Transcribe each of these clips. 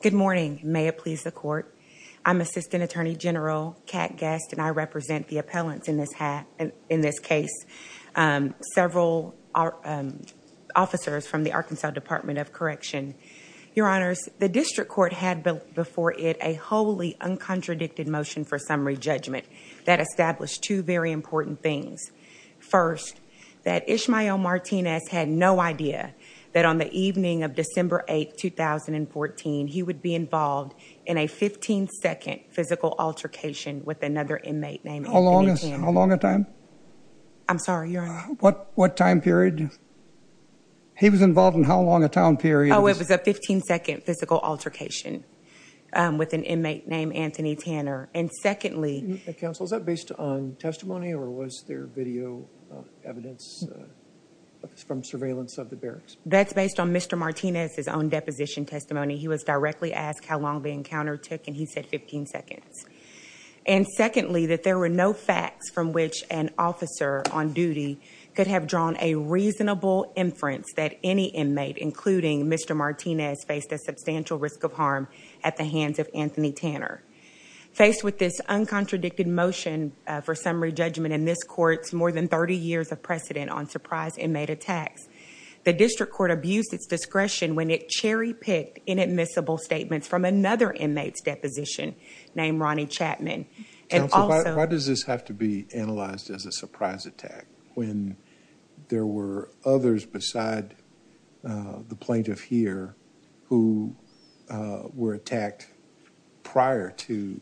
Good morning. May it please the court. I'm Assistant Attorney General Kat Gast and I represent the appellants in this case, several officers from the Arkansas Department of Correction. Your honors, the district court had before it a wholly uncontradicted motion for summary judgment that established two very important things. First, that Ismael Martinez had no idea that on the evening of December 8, 2014, he would be involved in a 15-second physical altercation with another inmate named Anthony Kim. How long a time? I'm sorry, your honor. What time period? He was a 15-second physical altercation with an inmate named Anthony Tanner. And secondly, counsel, is that based on testimony or was there video evidence from surveillance of the barracks? That's based on Mr. Martinez's own deposition testimony. He was directly asked how long the encounter took and he said 15 seconds. And secondly, that there were no facts from which an officer on Mr. Martinez faced a substantial risk of harm at the hands of Anthony Tanner. Faced with this uncontradicted motion for summary judgment in this court's more than 30 years of precedent on surprise inmate attacks, the district court abused its discretion when it cherry-picked inadmissible statements from another inmate's deposition named Ronnie Chapman. Counsel, why does this have to be analyzed as a surprise attack when there were others beside the plaintiff here who were attacked prior to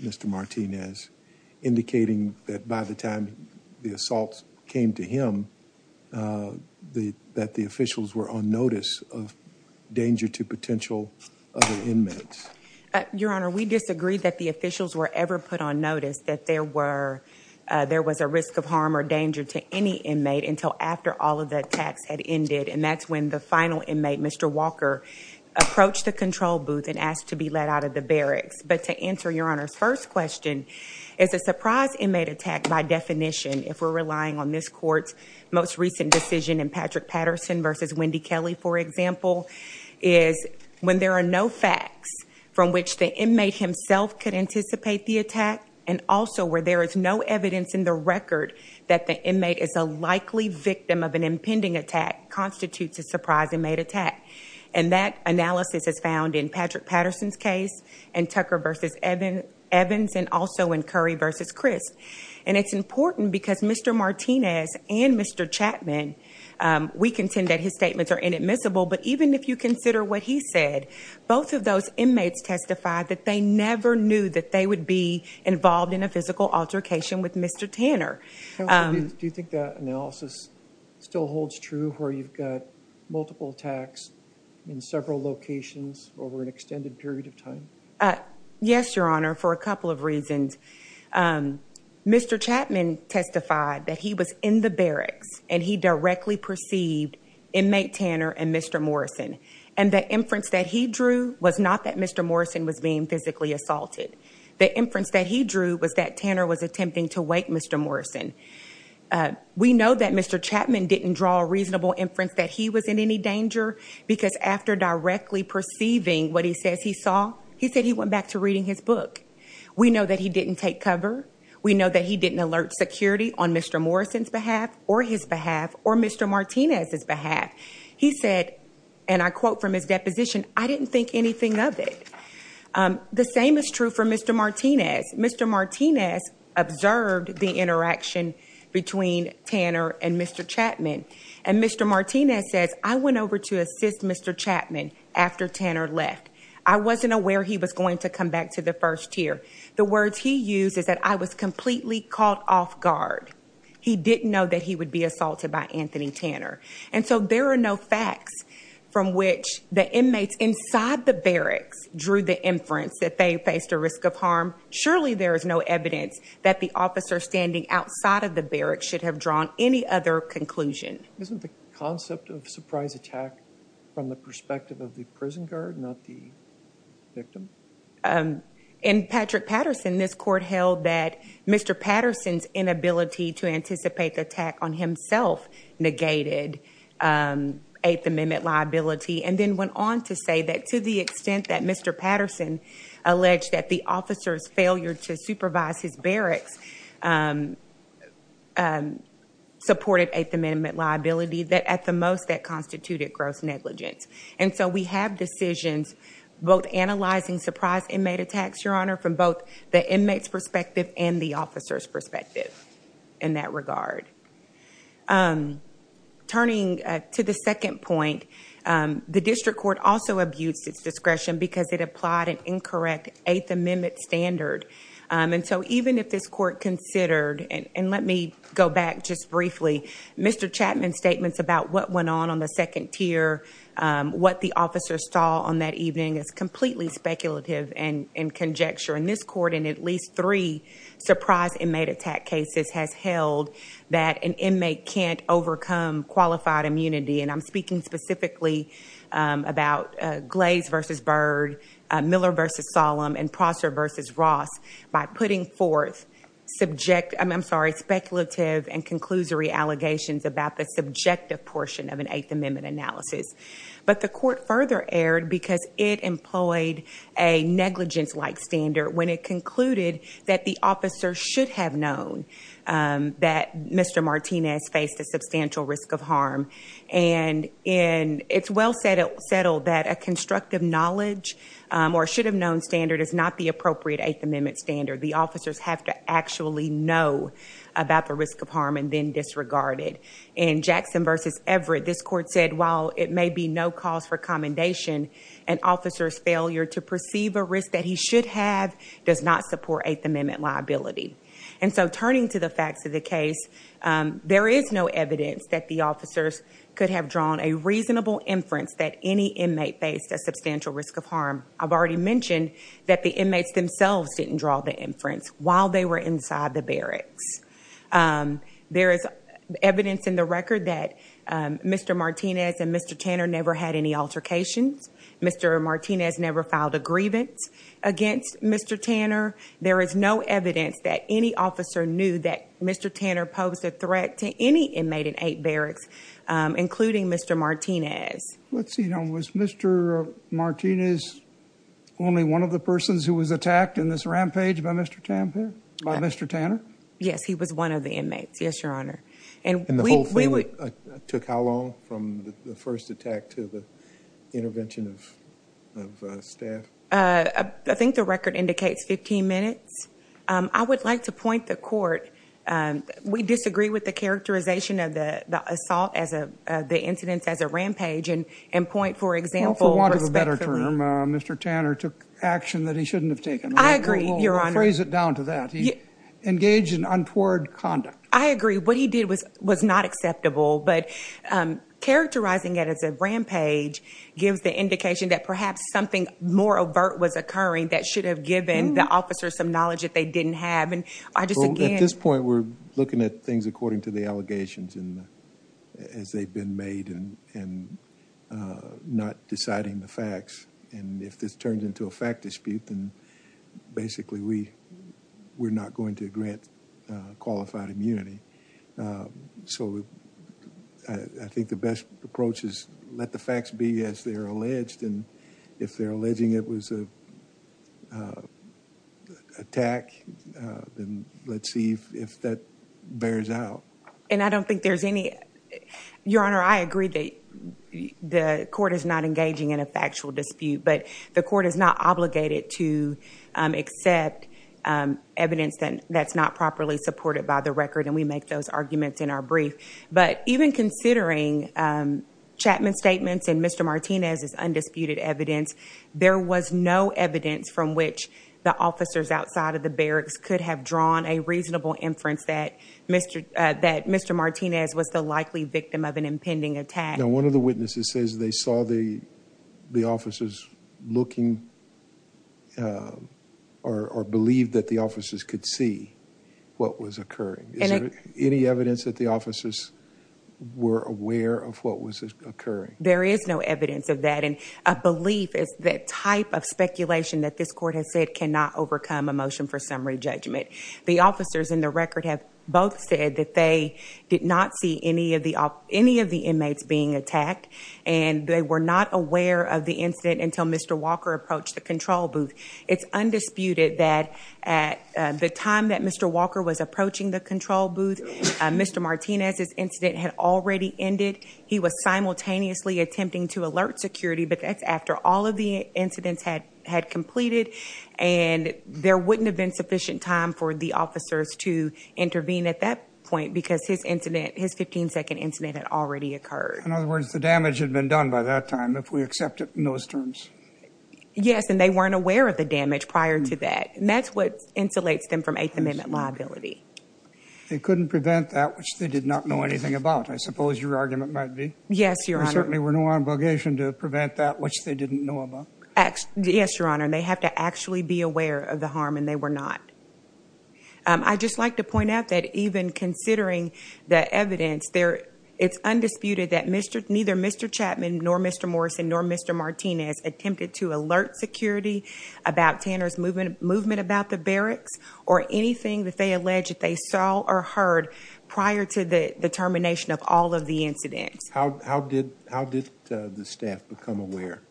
Mr. Martinez, indicating that by the time the assault came to him, that the officials were on notice of danger to potential other inmates? Your honor, we disagreed that the officials were ever put on notice that there was a risk of harm or danger to any inmate until after all of the attacks had ended. And that's when the final inmate, Mr. Walker, approached the control booth and asked to be let out of the barracks. But to answer your honor's first question, is a surprise inmate attack by definition, if we're relying on this court's most recent decision in Patrick Patterson versus Wendy Kelly, for example, is when there are no facts from which the inmate himself could anticipate the attack and also where there is evidence in the record that the inmate is a likely victim of an impending attack, constitutes a surprise inmate attack. And that analysis is found in Patrick Patterson's case and Tucker versus Evans and also in Curry versus Crisp. And it's important because Mr. Martinez and Mr. Chapman, we contend that his statements are inadmissible, but even if you consider what he said, both of those inmates testified that they never knew that they would be involved in a altercation with Mr. Tanner. Do you think that analysis still holds true where you've got multiple attacks in several locations over an extended period of time? Yes, your honor, for a couple of reasons. Mr. Chapman testified that he was in the barracks and he directly perceived inmate Tanner and Mr. Morrison. And the inference that he drew was not that Mr. Morrison was being physically assaulted. The inference that he drew was that Tanner was attempting to wake Mr. Morrison. We know that Mr. Chapman didn't draw a reasonable inference that he was in any danger because after directly perceiving what he says he saw, he said he went back to reading his book. We know that he didn't take cover. We know that he didn't alert security on Mr. Morrison's behalf or his behalf or Mr. Martinez's behalf. He said, and I quote from his of it. The same is true for Mr. Martinez. Mr. Martinez observed the interaction between Tanner and Mr. Chapman. And Mr. Martinez says, I went over to assist Mr. Chapman after Tanner left. I wasn't aware he was going to come back to the first tier. The words he used is that I was completely caught off guard. He didn't know that he would be assaulted by Anthony Tanner. And so there are no facts from which the inmates inside the barracks drew the inference that they faced a risk of harm. Surely there is no evidence that the officer standing outside of the barracks should have drawn any other conclusion. Isn't the concept of surprise attack from the perspective of the prison guard, not the victim? In Patrick Patterson, this court held that Mr. Patterson's inability to eighth amendment liability. And then went on to say that to the extent that Mr. Patterson alleged that the officer's failure to supervise his barracks supported eighth amendment liability that at the most that constituted gross negligence. And so we have decisions, both analyzing surprise inmate attacks, your honor, from both the inmates perspective and the officer's perspective in that regard. Turning to the second point, the district court also abused its discretion because it applied an incorrect eighth amendment standard. And so even if this court considered, and let me go back just briefly, Mr. Chapman's statements about what went on on the second tier, what the officer saw on that evening is completely speculative and in conjecture. And this court in at least three surprise inmate attack cases has held that an inmate can't overcome qualified immunity. And I'm speaking specifically about Glaze versus Byrd, Miller versus Solemn, and Prosser versus Ross by putting forth subjective, I'm sorry, speculative and conclusory allegations about the subjective portion of an eighth amendment analysis. But the court further erred because it employed a negligence like standard when it concluded that the officer should have known that Mr. Martinez faced a substantial risk of harm. And it's well settled that a constructive knowledge or should have known standard is not the appropriate eighth amendment standard. The officers have to actually know about the risk of harm and then disregard it. In Jackson versus Everett, this court said, while it may be no cause for commendation, an officer's failure to perceive a risk that he should have does not support eighth amendment liability. And so turning to the facts of the case, there is no evidence that the officers could have drawn a reasonable inference that any inmate faced a substantial risk of harm. I've already mentioned that the inmates themselves didn't draw the inference while they were inside the barracks. There is evidence in the record that Mr. Martinez and Mr. Tanner never had any altercations. Mr. Martinez never filed a grievance against Mr. Tanner. There is no evidence that any officer knew that Mr. Tanner posed a threat to any inmate in eight barracks, including Mr. Martinez. Let's see, was Mr. Martinez only one of the persons who was attacked in this rampage by Mr. Tanner? Yes, he was one of the inmates. Yes, your honor. And the whole thing took how long from the first attack to the intervention of staff? I think the record indicates 15 minutes. I would like to point the court, we disagree with the characterization of the assault as the incidents as a rampage and point, for example, respectfully. For want of a better term, Mr. Tanner took action that he shouldn't have taken. I agree, your honor. We'll phrase it down to that. He engaged in untoward conduct. I agree. What he did was not acceptable, but characterizing it as a rampage gives the indication that perhaps something more overt was occurring that should have given the officers some knowledge that they didn't have. And I just again- At this point, we're looking at things according to the allegations as they've been made and not deciding the facts. And if this turns into a fact dispute, then basically we're not going to qualify immunity. So I think the best approach is let the facts be as they're alleged. And if they're alleging it was an attack, then let's see if that bears out. And I don't think there's any- Your honor, I agree that the court is not engaging in a factual dispute, but the court is not obligated to accept evidence that's not properly supported by the record. And we make those arguments in our brief. But even considering Chapman's statements and Mr. Martinez's undisputed evidence, there was no evidence from which the officers outside of the barracks could have drawn a reasonable inference that Mr. Martinez was the likely victim of an impending attack. Now, one of the witnesses says they saw the officers looking or believed that the officers could see what was occurring. Is there any evidence that the officers were aware of what was occurring? There is no evidence of that. And a belief is that type of speculation that this court has said cannot overcome a motion for summary judgment. The officers in the record have both said that they did not see any of the inmates being attacked and they were not aware of the incident until Mr. Walker approached the control booth. It's undisputed that at the time that Mr. Walker was approaching the control booth, Mr. Martinez's incident had already ended. He was simultaneously attempting to alert security, but that's after all of the incidents had completed. And there wouldn't have been sufficient time for the officers to intervene at that point because his incident, his 15-second incident had already occurred. In other words, the damage had been done by that time, if we accept it in those terms. Yes. And they weren't aware of the damage prior to that. And that's what insulates them from Eighth Amendment liability. They couldn't prevent that, which they did not know anything about, I suppose your argument might be. Yes, Your Honor. There certainly were no obligation to prevent that, which they didn't know about. Yes, Your Honor. And they have to actually be aware of the harm and they were not. I'd just like to point out that even considering the evidence, it's undisputed that neither Mr. Chapman, nor Mr. Morrison, nor Mr. Martinez attempted to alert security about Tanner's movement about the barracks or anything that they allege that they saw or heard prior to the termination of all of the incidents. How did the staff become aware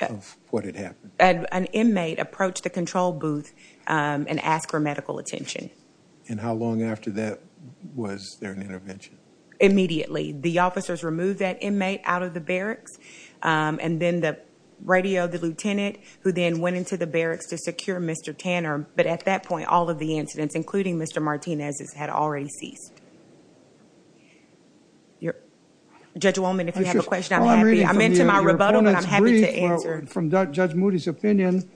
of what had happened? An inmate approached the control booth and asked for medical attention. And how long after that was there an intervention? Immediately. The officers removed that inmate out of the barracks. And then the radio, the lieutenant, who then went into the barracks to secure Mr. Tanner. But at that point, all of the incidents, including Mr. Martinez's, had already ceased. Judge Wolman, if you have a question, I'm happy. I meant to my rebuttal, but I'm happy to answer. From Judge Moody's opinion,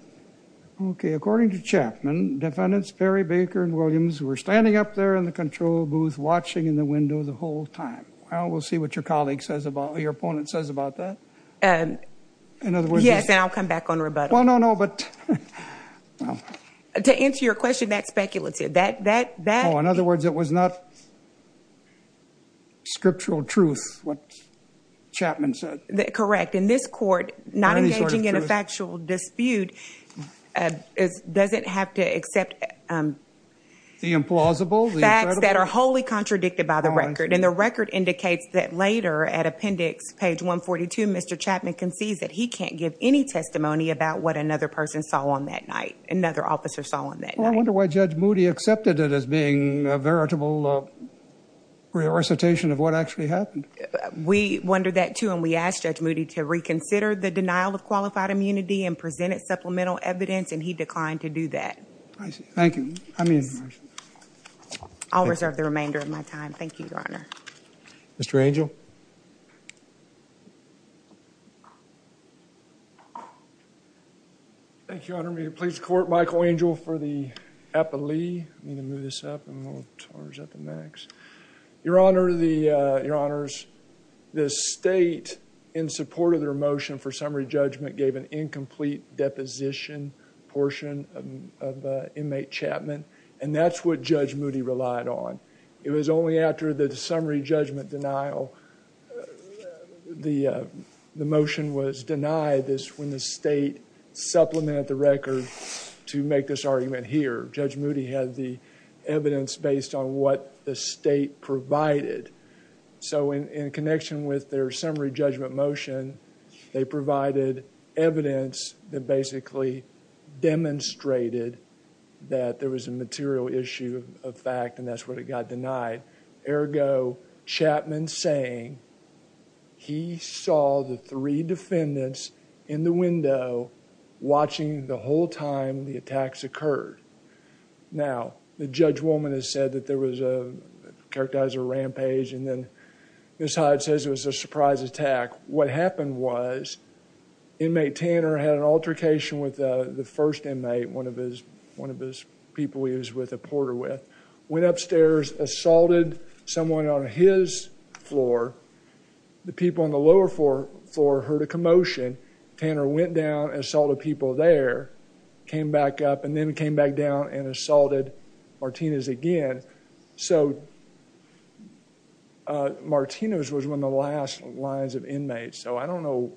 okay, according to Chapman, defendants Perry, Baker, and Williams were standing up there in the control booth, watching in the window the whole time. Well, we'll see what your colleague says about, what your opponent says about that. Yes, and I'll come back on rebuttal. Well, no, no, but... To answer your question, that's speculative. Oh, in other words, it was not scriptural truth, what Chapman said. Correct. In this court, not engaging in a factual dispute doesn't have to accept... The implausible. Facts that are wholly contradicted by the record. And the record indicates that later, at appendix page 142, Mr. Chapman concedes that he can't give any testimony about what another person saw on that night, another officer saw on that night. Well, I wonder why Judge Moody accepted it as being a veritable recitation of what actually happened. We wonder that too, and we asked Judge Moody to reconsider the denial of qualified immunity and presented supplemental evidence, and he declined to do that. I see. Thank you. I mean... I'll reserve the remainder of my time. Thank you, Your Honor. Mr. Angel. Thank you, Your Honor. May you please court Michael Angel for the epilee. I'm going to move this up, and we'll charge up the next. Your Honor, the... Your Honors, the state, in support of their motion for summary judgment, gave an incomplete deposition portion of inmate Chapman, and that's what Judge Moody relied on. It was only after the summary judgment denial... The motion was denied when the state supplemented the record to make this argument here. Judge Moody had the evidence based on what the state provided. So in connection with their summary judgment motion, they provided evidence that basically demonstrated that there was a material issue of fact, and that's what it got denied. Ergo, Chapman saying he saw the three defendants in the window watching the whole time the attacks occurred. Now, the judge woman has said that there was a... Characterized a rampage, and then Ms. Hyatt says it was a surprise attack. What happened was, inmate Tanner had an altercation with the first inmate, one of his people he was with, a porter with. Went upstairs, assaulted someone on his floor. The people on the lower floor heard a noise, and then came back down and assaulted Martinez again. So, Martinez was one of the last lines of inmates. So I don't know,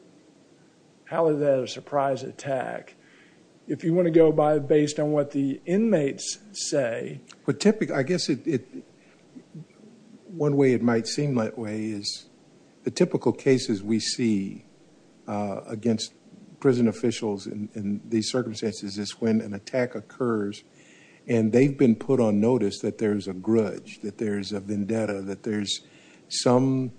how is that a surprise attack? If you want to go by based on what the inmates say... I guess it... One way it might seem that way is, the typical cases we see against prison officials in these circumstances is when an attack occurs, and they've been put on notice that there's a grudge, that there's a vendetta, that there's some...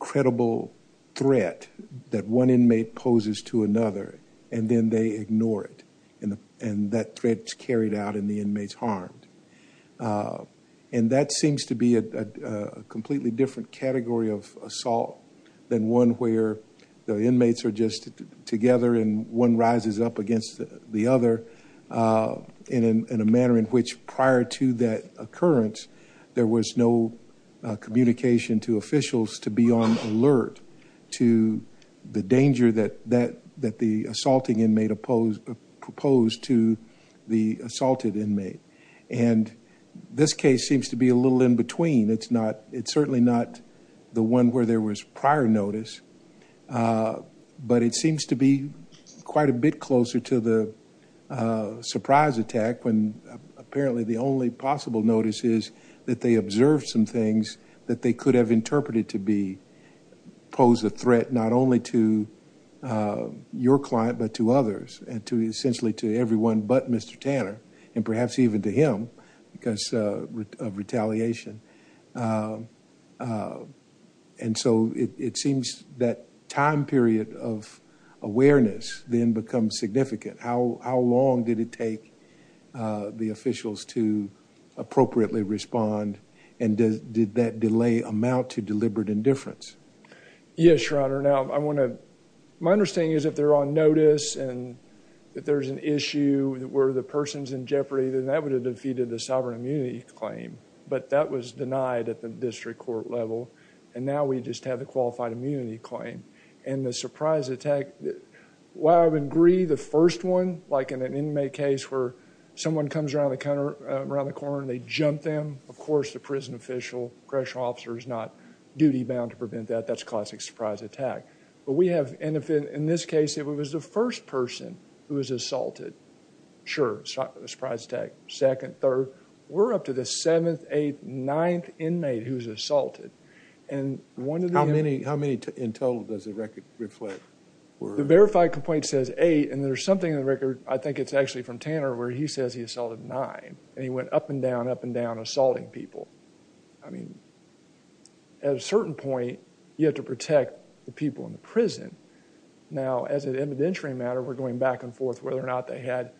Credible threat that one inmate poses to another, and then they ignore it. And that threat's carried out, and the inmate's are just together, and one rises up against the other, in a manner in which prior to that occurrence, there was no communication to officials to be on alert to the danger that the assaulting inmate opposed to the assaulted inmate. And this case seems to be a little in between. It's not... It's certainly not the one where there was prior notice, but it seems to be quite a bit closer to the surprise attack, when apparently the only possible notice is that they observed some things that they could have interpreted to be... Pose a threat not only to your client, but to others, and to essentially to everyone but Mr. Tanner, and perhaps even to him, because of retaliation. And so it seems that time period of awareness then becomes significant. How long did it take the officials to appropriately respond, and did that delay amount to deliberate indifference? Yes, Your Honor. Now, I want to... My understanding is if they're on notice, and if there's an issue where the person's in jeopardy, then that would have defeated the sovereign immunity claim, but that was denied at the district court level, and now we just have the qualified immunity claim. And the surprise attack, while I would agree the first one, like in an inmate case where someone comes around the corner and they jump them, of course, the prison official, correctional officer, is not duty-bound to prevent that. That's classic surprise attack. But we have, in this case, if it was the first person who was assaulted, sure, surprise attack. Second, third. We're up to the seventh, eighth, ninth inmate who was assaulted. And one of the... How many in total does the record reflect? The verified complaint says eight, and there's something in the record, I think it's actually from Tanner, where he says he assaulted nine, and he went up and down, up and down, assaulting I mean, at a certain point, you have to protect the people in the prison. Now, as an evidentiary matter, we're going back and forth whether or not they had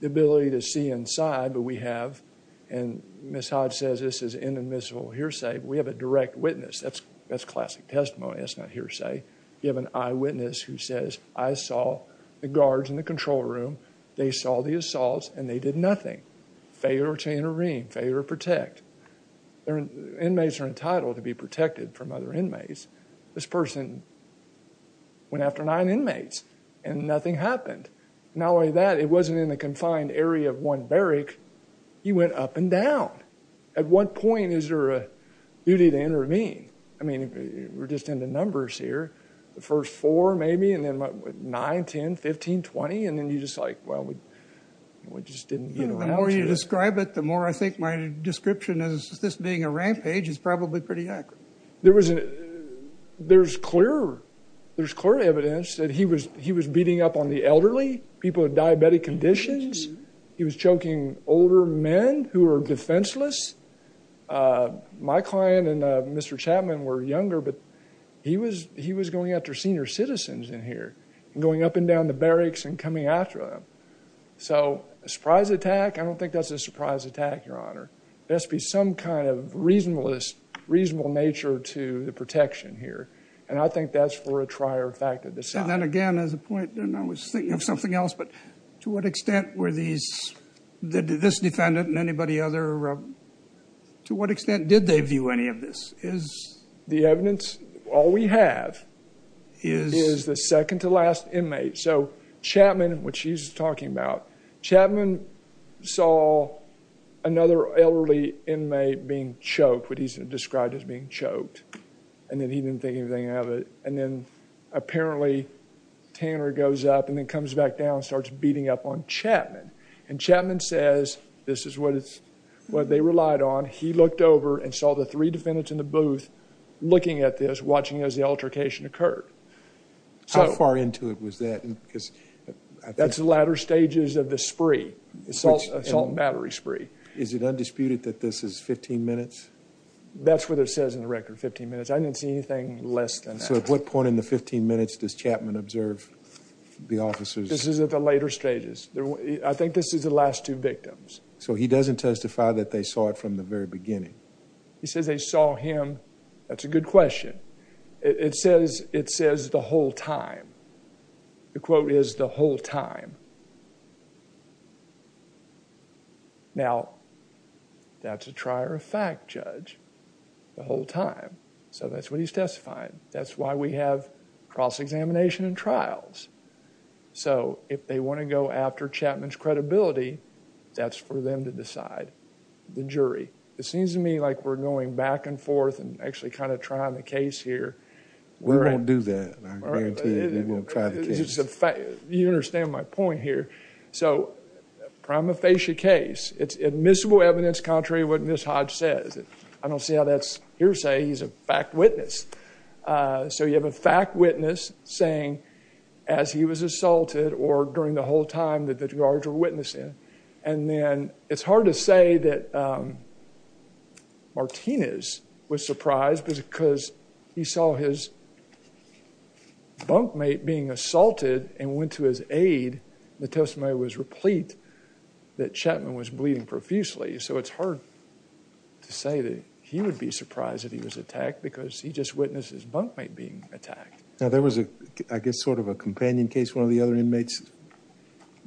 the ability to see inside, but we have, and Ms. Hodge says this is inadmissible hearsay. We have a direct witness. That's classic testimony. That's not hearsay. You have an eyewitness who says, I saw the guards in the control room. They saw the assaults, and they did nothing. Failure to intervene, failure to protect. Their inmates are entitled to be protected from other inmates. This person went after nine inmates, and nothing happened. Not only that, it wasn't in a confined area of one barrack. He went up and down. At what point is there a duty to intervene? I mean, we're just into numbers here. The first four, maybe, and then nine, 10, 15, 20, and then you're just like, well, we just didn't get around to it. The more you describe it, the more I think my description as this being a rampage is probably pretty accurate. There's clear evidence that he was beating up on the elderly, people with diabetic conditions. He was choking older men who were defenseless. My client and Mr. Chapman were younger, but he was going after senior citizens in here, going up and down the barracks and coming after them. So a surprise attack? I don't think that's a surprise attack, Your Honor. There has to be some kind of reasonable nature to the protection here, and I think that's for a trier fact to decide. And then again, as a point, and I was To what extent did they view any of this? The evidence, all we have is the second to last inmate. So Chapman, what she's talking about, Chapman saw another elderly inmate being choked, what he's described as being choked, and then he didn't think anything of it. And then apparently Tanner goes up and then comes back down and starts beating up on Chapman. And Chapman says, this is what they relied on. He looked over and saw the three defendants in the booth looking at this, watching as the altercation occurred. How far into it was that? That's the latter stages of the spree, assault and battery spree. Is it undisputed that this is 15 minutes? That's what it says in the record, 15 minutes. I didn't see anything less than that. So at what point in the 15 minutes does Chapman observe the officers? This is at the later stages. I think this is the last two victims. So he doesn't testify that they saw it from the very beginning? He says they saw him. That's a good question. It says the whole time. The quote is the whole time. Now that's a trier of fact, Judge, the whole time. So that's what he's testifying. That's why we have cross-examination and trials. So if they want to go after Chapman's credibility, that's for them to decide, the jury. It seems to me like we're going back and forth and actually kind of trying the case here. We won't do that. I guarantee it. We won't try the case. You understand my point here. So prima facie case, it's admissible evidence contrary to what Hodge says. I don't see how that's hearsay. He's a fact witness. So you have a fact witness saying as he was assaulted or during the whole time that the guards were witnessing. And then it's hard to say that Martinez was surprised because he saw his bunkmate being assaulted and went to his aid. The testimony was replete that Chapman was bleeding profusely. So it's hard to say that he would be surprised that he was attacked because he just witnessed his bunkmate being attacked. Now there was, I guess, sort of a companion case. One of the other inmates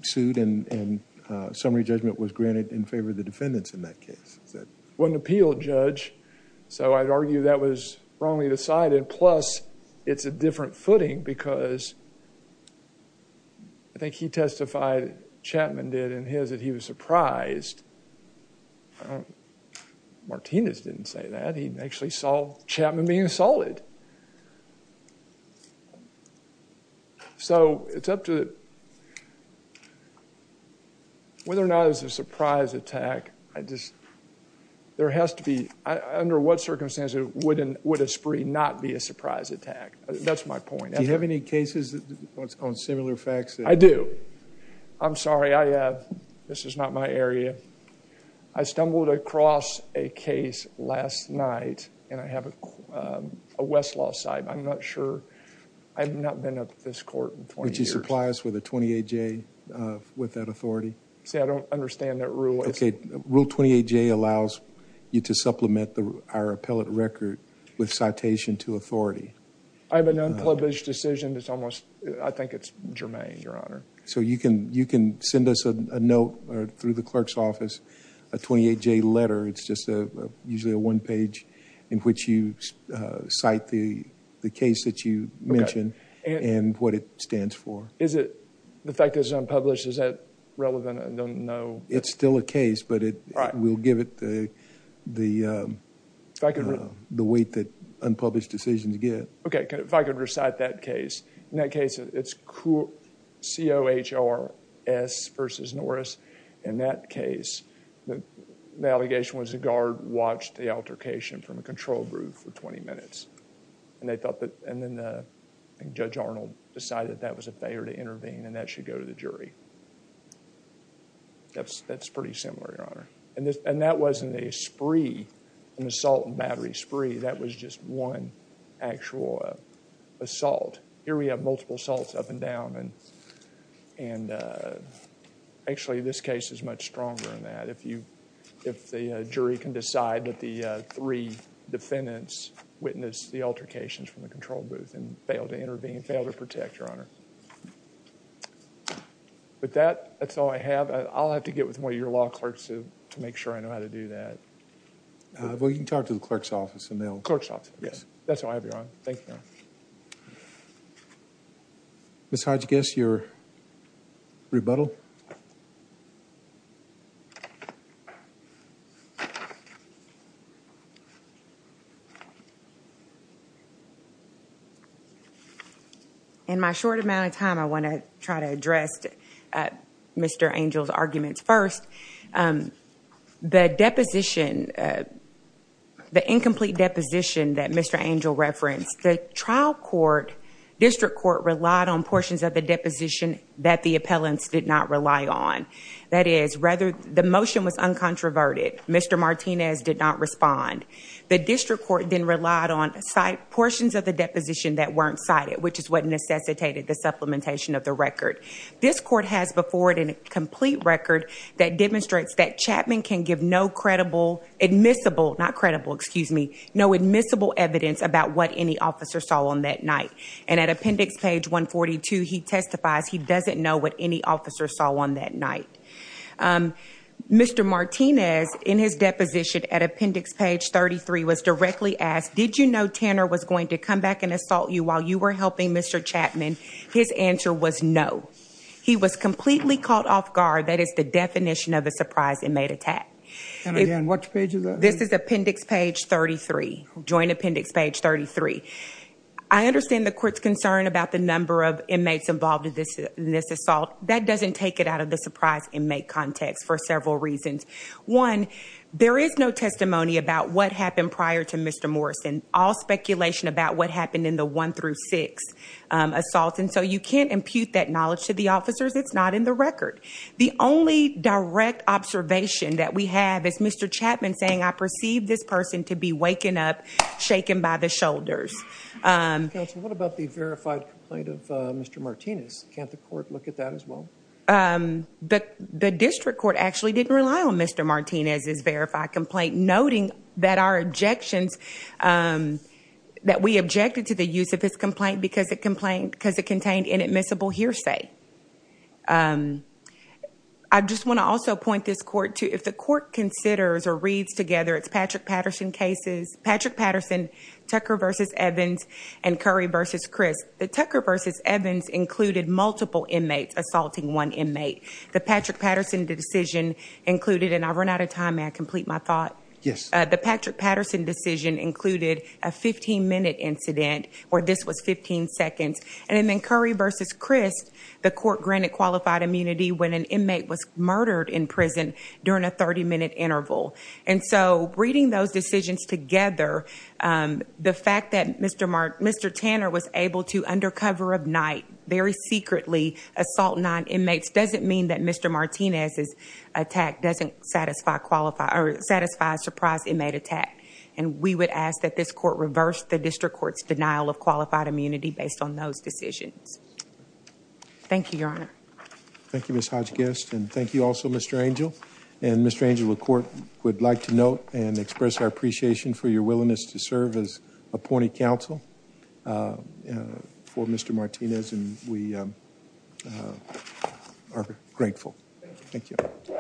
sued and summary judgment was granted in favor of the defendants in that case. Wasn't appealed, Judge. So I'd argue that was wrongly decided. Plus, it's a different footing because I think he testified, Chapman did, in his that he was surprised. Martinez didn't say that. He actually saw Chapman being assaulted. So it's up to whether or not it was a surprise attack. I just, there has to be, under what circumstances would a spree not be a surprise attack? That's my point. Do you have any cases on similar facts? I do. I'm sorry, I have. This is not my area. I stumbled across a case last night and I have a Westlaw side. I'm not sure. I've not been up this court in 20 years. Would you supply us with a 28J with that authority? See, I don't understand that rule. Okay, rule 28J allows you to supplement our appellate record with citation to authority. I have an unpublished decision that's almost, I think it's germane, Your Honor. So you can send us a note through the clerk's office, a 28J letter. It's just usually a one page in which you cite the case that you mentioned and what it stands for. Is it, the fact that it's unpublished, is that relevant? I don't know. It's still a case, but it will give it the weight that unpublished decisions get. Okay, if I could recite that case. In that case, it's COHRS versus Norris. In that case, the allegation was the guard watched the altercation from a control room for 20 minutes and they thought that, and then Judge Arnold decided that was a failure to intervene and that should go to the jury. That's pretty similar, Your Honor. And that wasn't a spree, an assault and battery spree. That was just one actual assault. Here we have multiple assaults up and down and actually this case is much stronger than that. If the jury can decide that the three defendants witnessed the altercations from the control booth and failed to intervene, Your Honor. With that, that's all I have. I'll have to get with one of your law clerks to make sure I know how to do that. Well, you can talk to the clerk's office and they'll- Clerk's office, yes. That's all I have, Your Honor. Thank you, Your Honor. Ms. Hodgkiss, your rebuttal. In my short amount of time, I want to try to address Mr. Angel's arguments first. The deposition, the incomplete deposition that Mr. Angel referenced, the trial court, district court relied on portions of the deposition that the appellants did not rely on. That is, the motion was uncontroverted. Mr. Martinez did not respond. The district court then relied on portions of the deposition that weren't cited, which is what necessitated the supplementation of the record. This court has before it a complete record that demonstrates that Chapman can give no credible, admissible, not credible, excuse me, no admissible evidence about what any officer saw on that night. At appendix page 142, he testifies he doesn't know what any officer saw on that night. Mr. Martinez, in his deposition at appendix page 33, was directly asked, did you know Tanner was going to come back and assault you while you were helping Mr. Chapman? His answer was no. He was completely caught off guard. That is the definition of a inmate attack. And again, what page is that? This is appendix page 33, joint appendix page 33. I understand the court's concern about the number of inmates involved in this assault. That doesn't take it out of the surprise inmate context for several reasons. One, there is no testimony about what happened prior to Mr. Morrison. All speculation about what happened in the one through six assaults. And so you can't impute that knowledge to the officers. It's not in the record. The only direct observation that we have is Mr. Chapman saying I perceive this person to be waking up, shaken by the shoulders. Counsel, what about the verified complaint of Mr. Martinez? Can't the court look at that as well? The district court actually didn't rely on Mr. Martinez's verified complaint, noting that our objections, that we objected to the use of his complaint because it contained inadmissible hearsay. I just want to also point this court to, if the court considers or reads together its Patrick Patterson cases, Patrick Patterson, Tucker versus Evans, and Curry versus Chris, the Tucker versus Evans included multiple inmates assaulting one inmate. The Patrick Patterson decision included, and I've run out of time, may I complete my thought? Yes. The Patrick Patterson decision included a 15 minute incident where this was 15 seconds. And then Curry versus Chris, the court granted qualified immunity when an inmate was murdered in prison during a 30 minute interval. And so reading those decisions together, the fact that Mr. Tanner was able to undercover of night, very secretly assault nine inmates doesn't mean that Mr. Martinez's attack doesn't satisfy surprise inmate attack. And we would ask that this court reverse the district court's denial of qualified immunity based on those decisions. Thank you, Your Honor. Thank you, Ms. Hodgkiss. And thank you also, Mr. Angell. And Mr. Angell, the court would like to note and express our appreciation for your willingness to serve as appointed counsel for Mr. Martinez. And we are grateful. Thank you.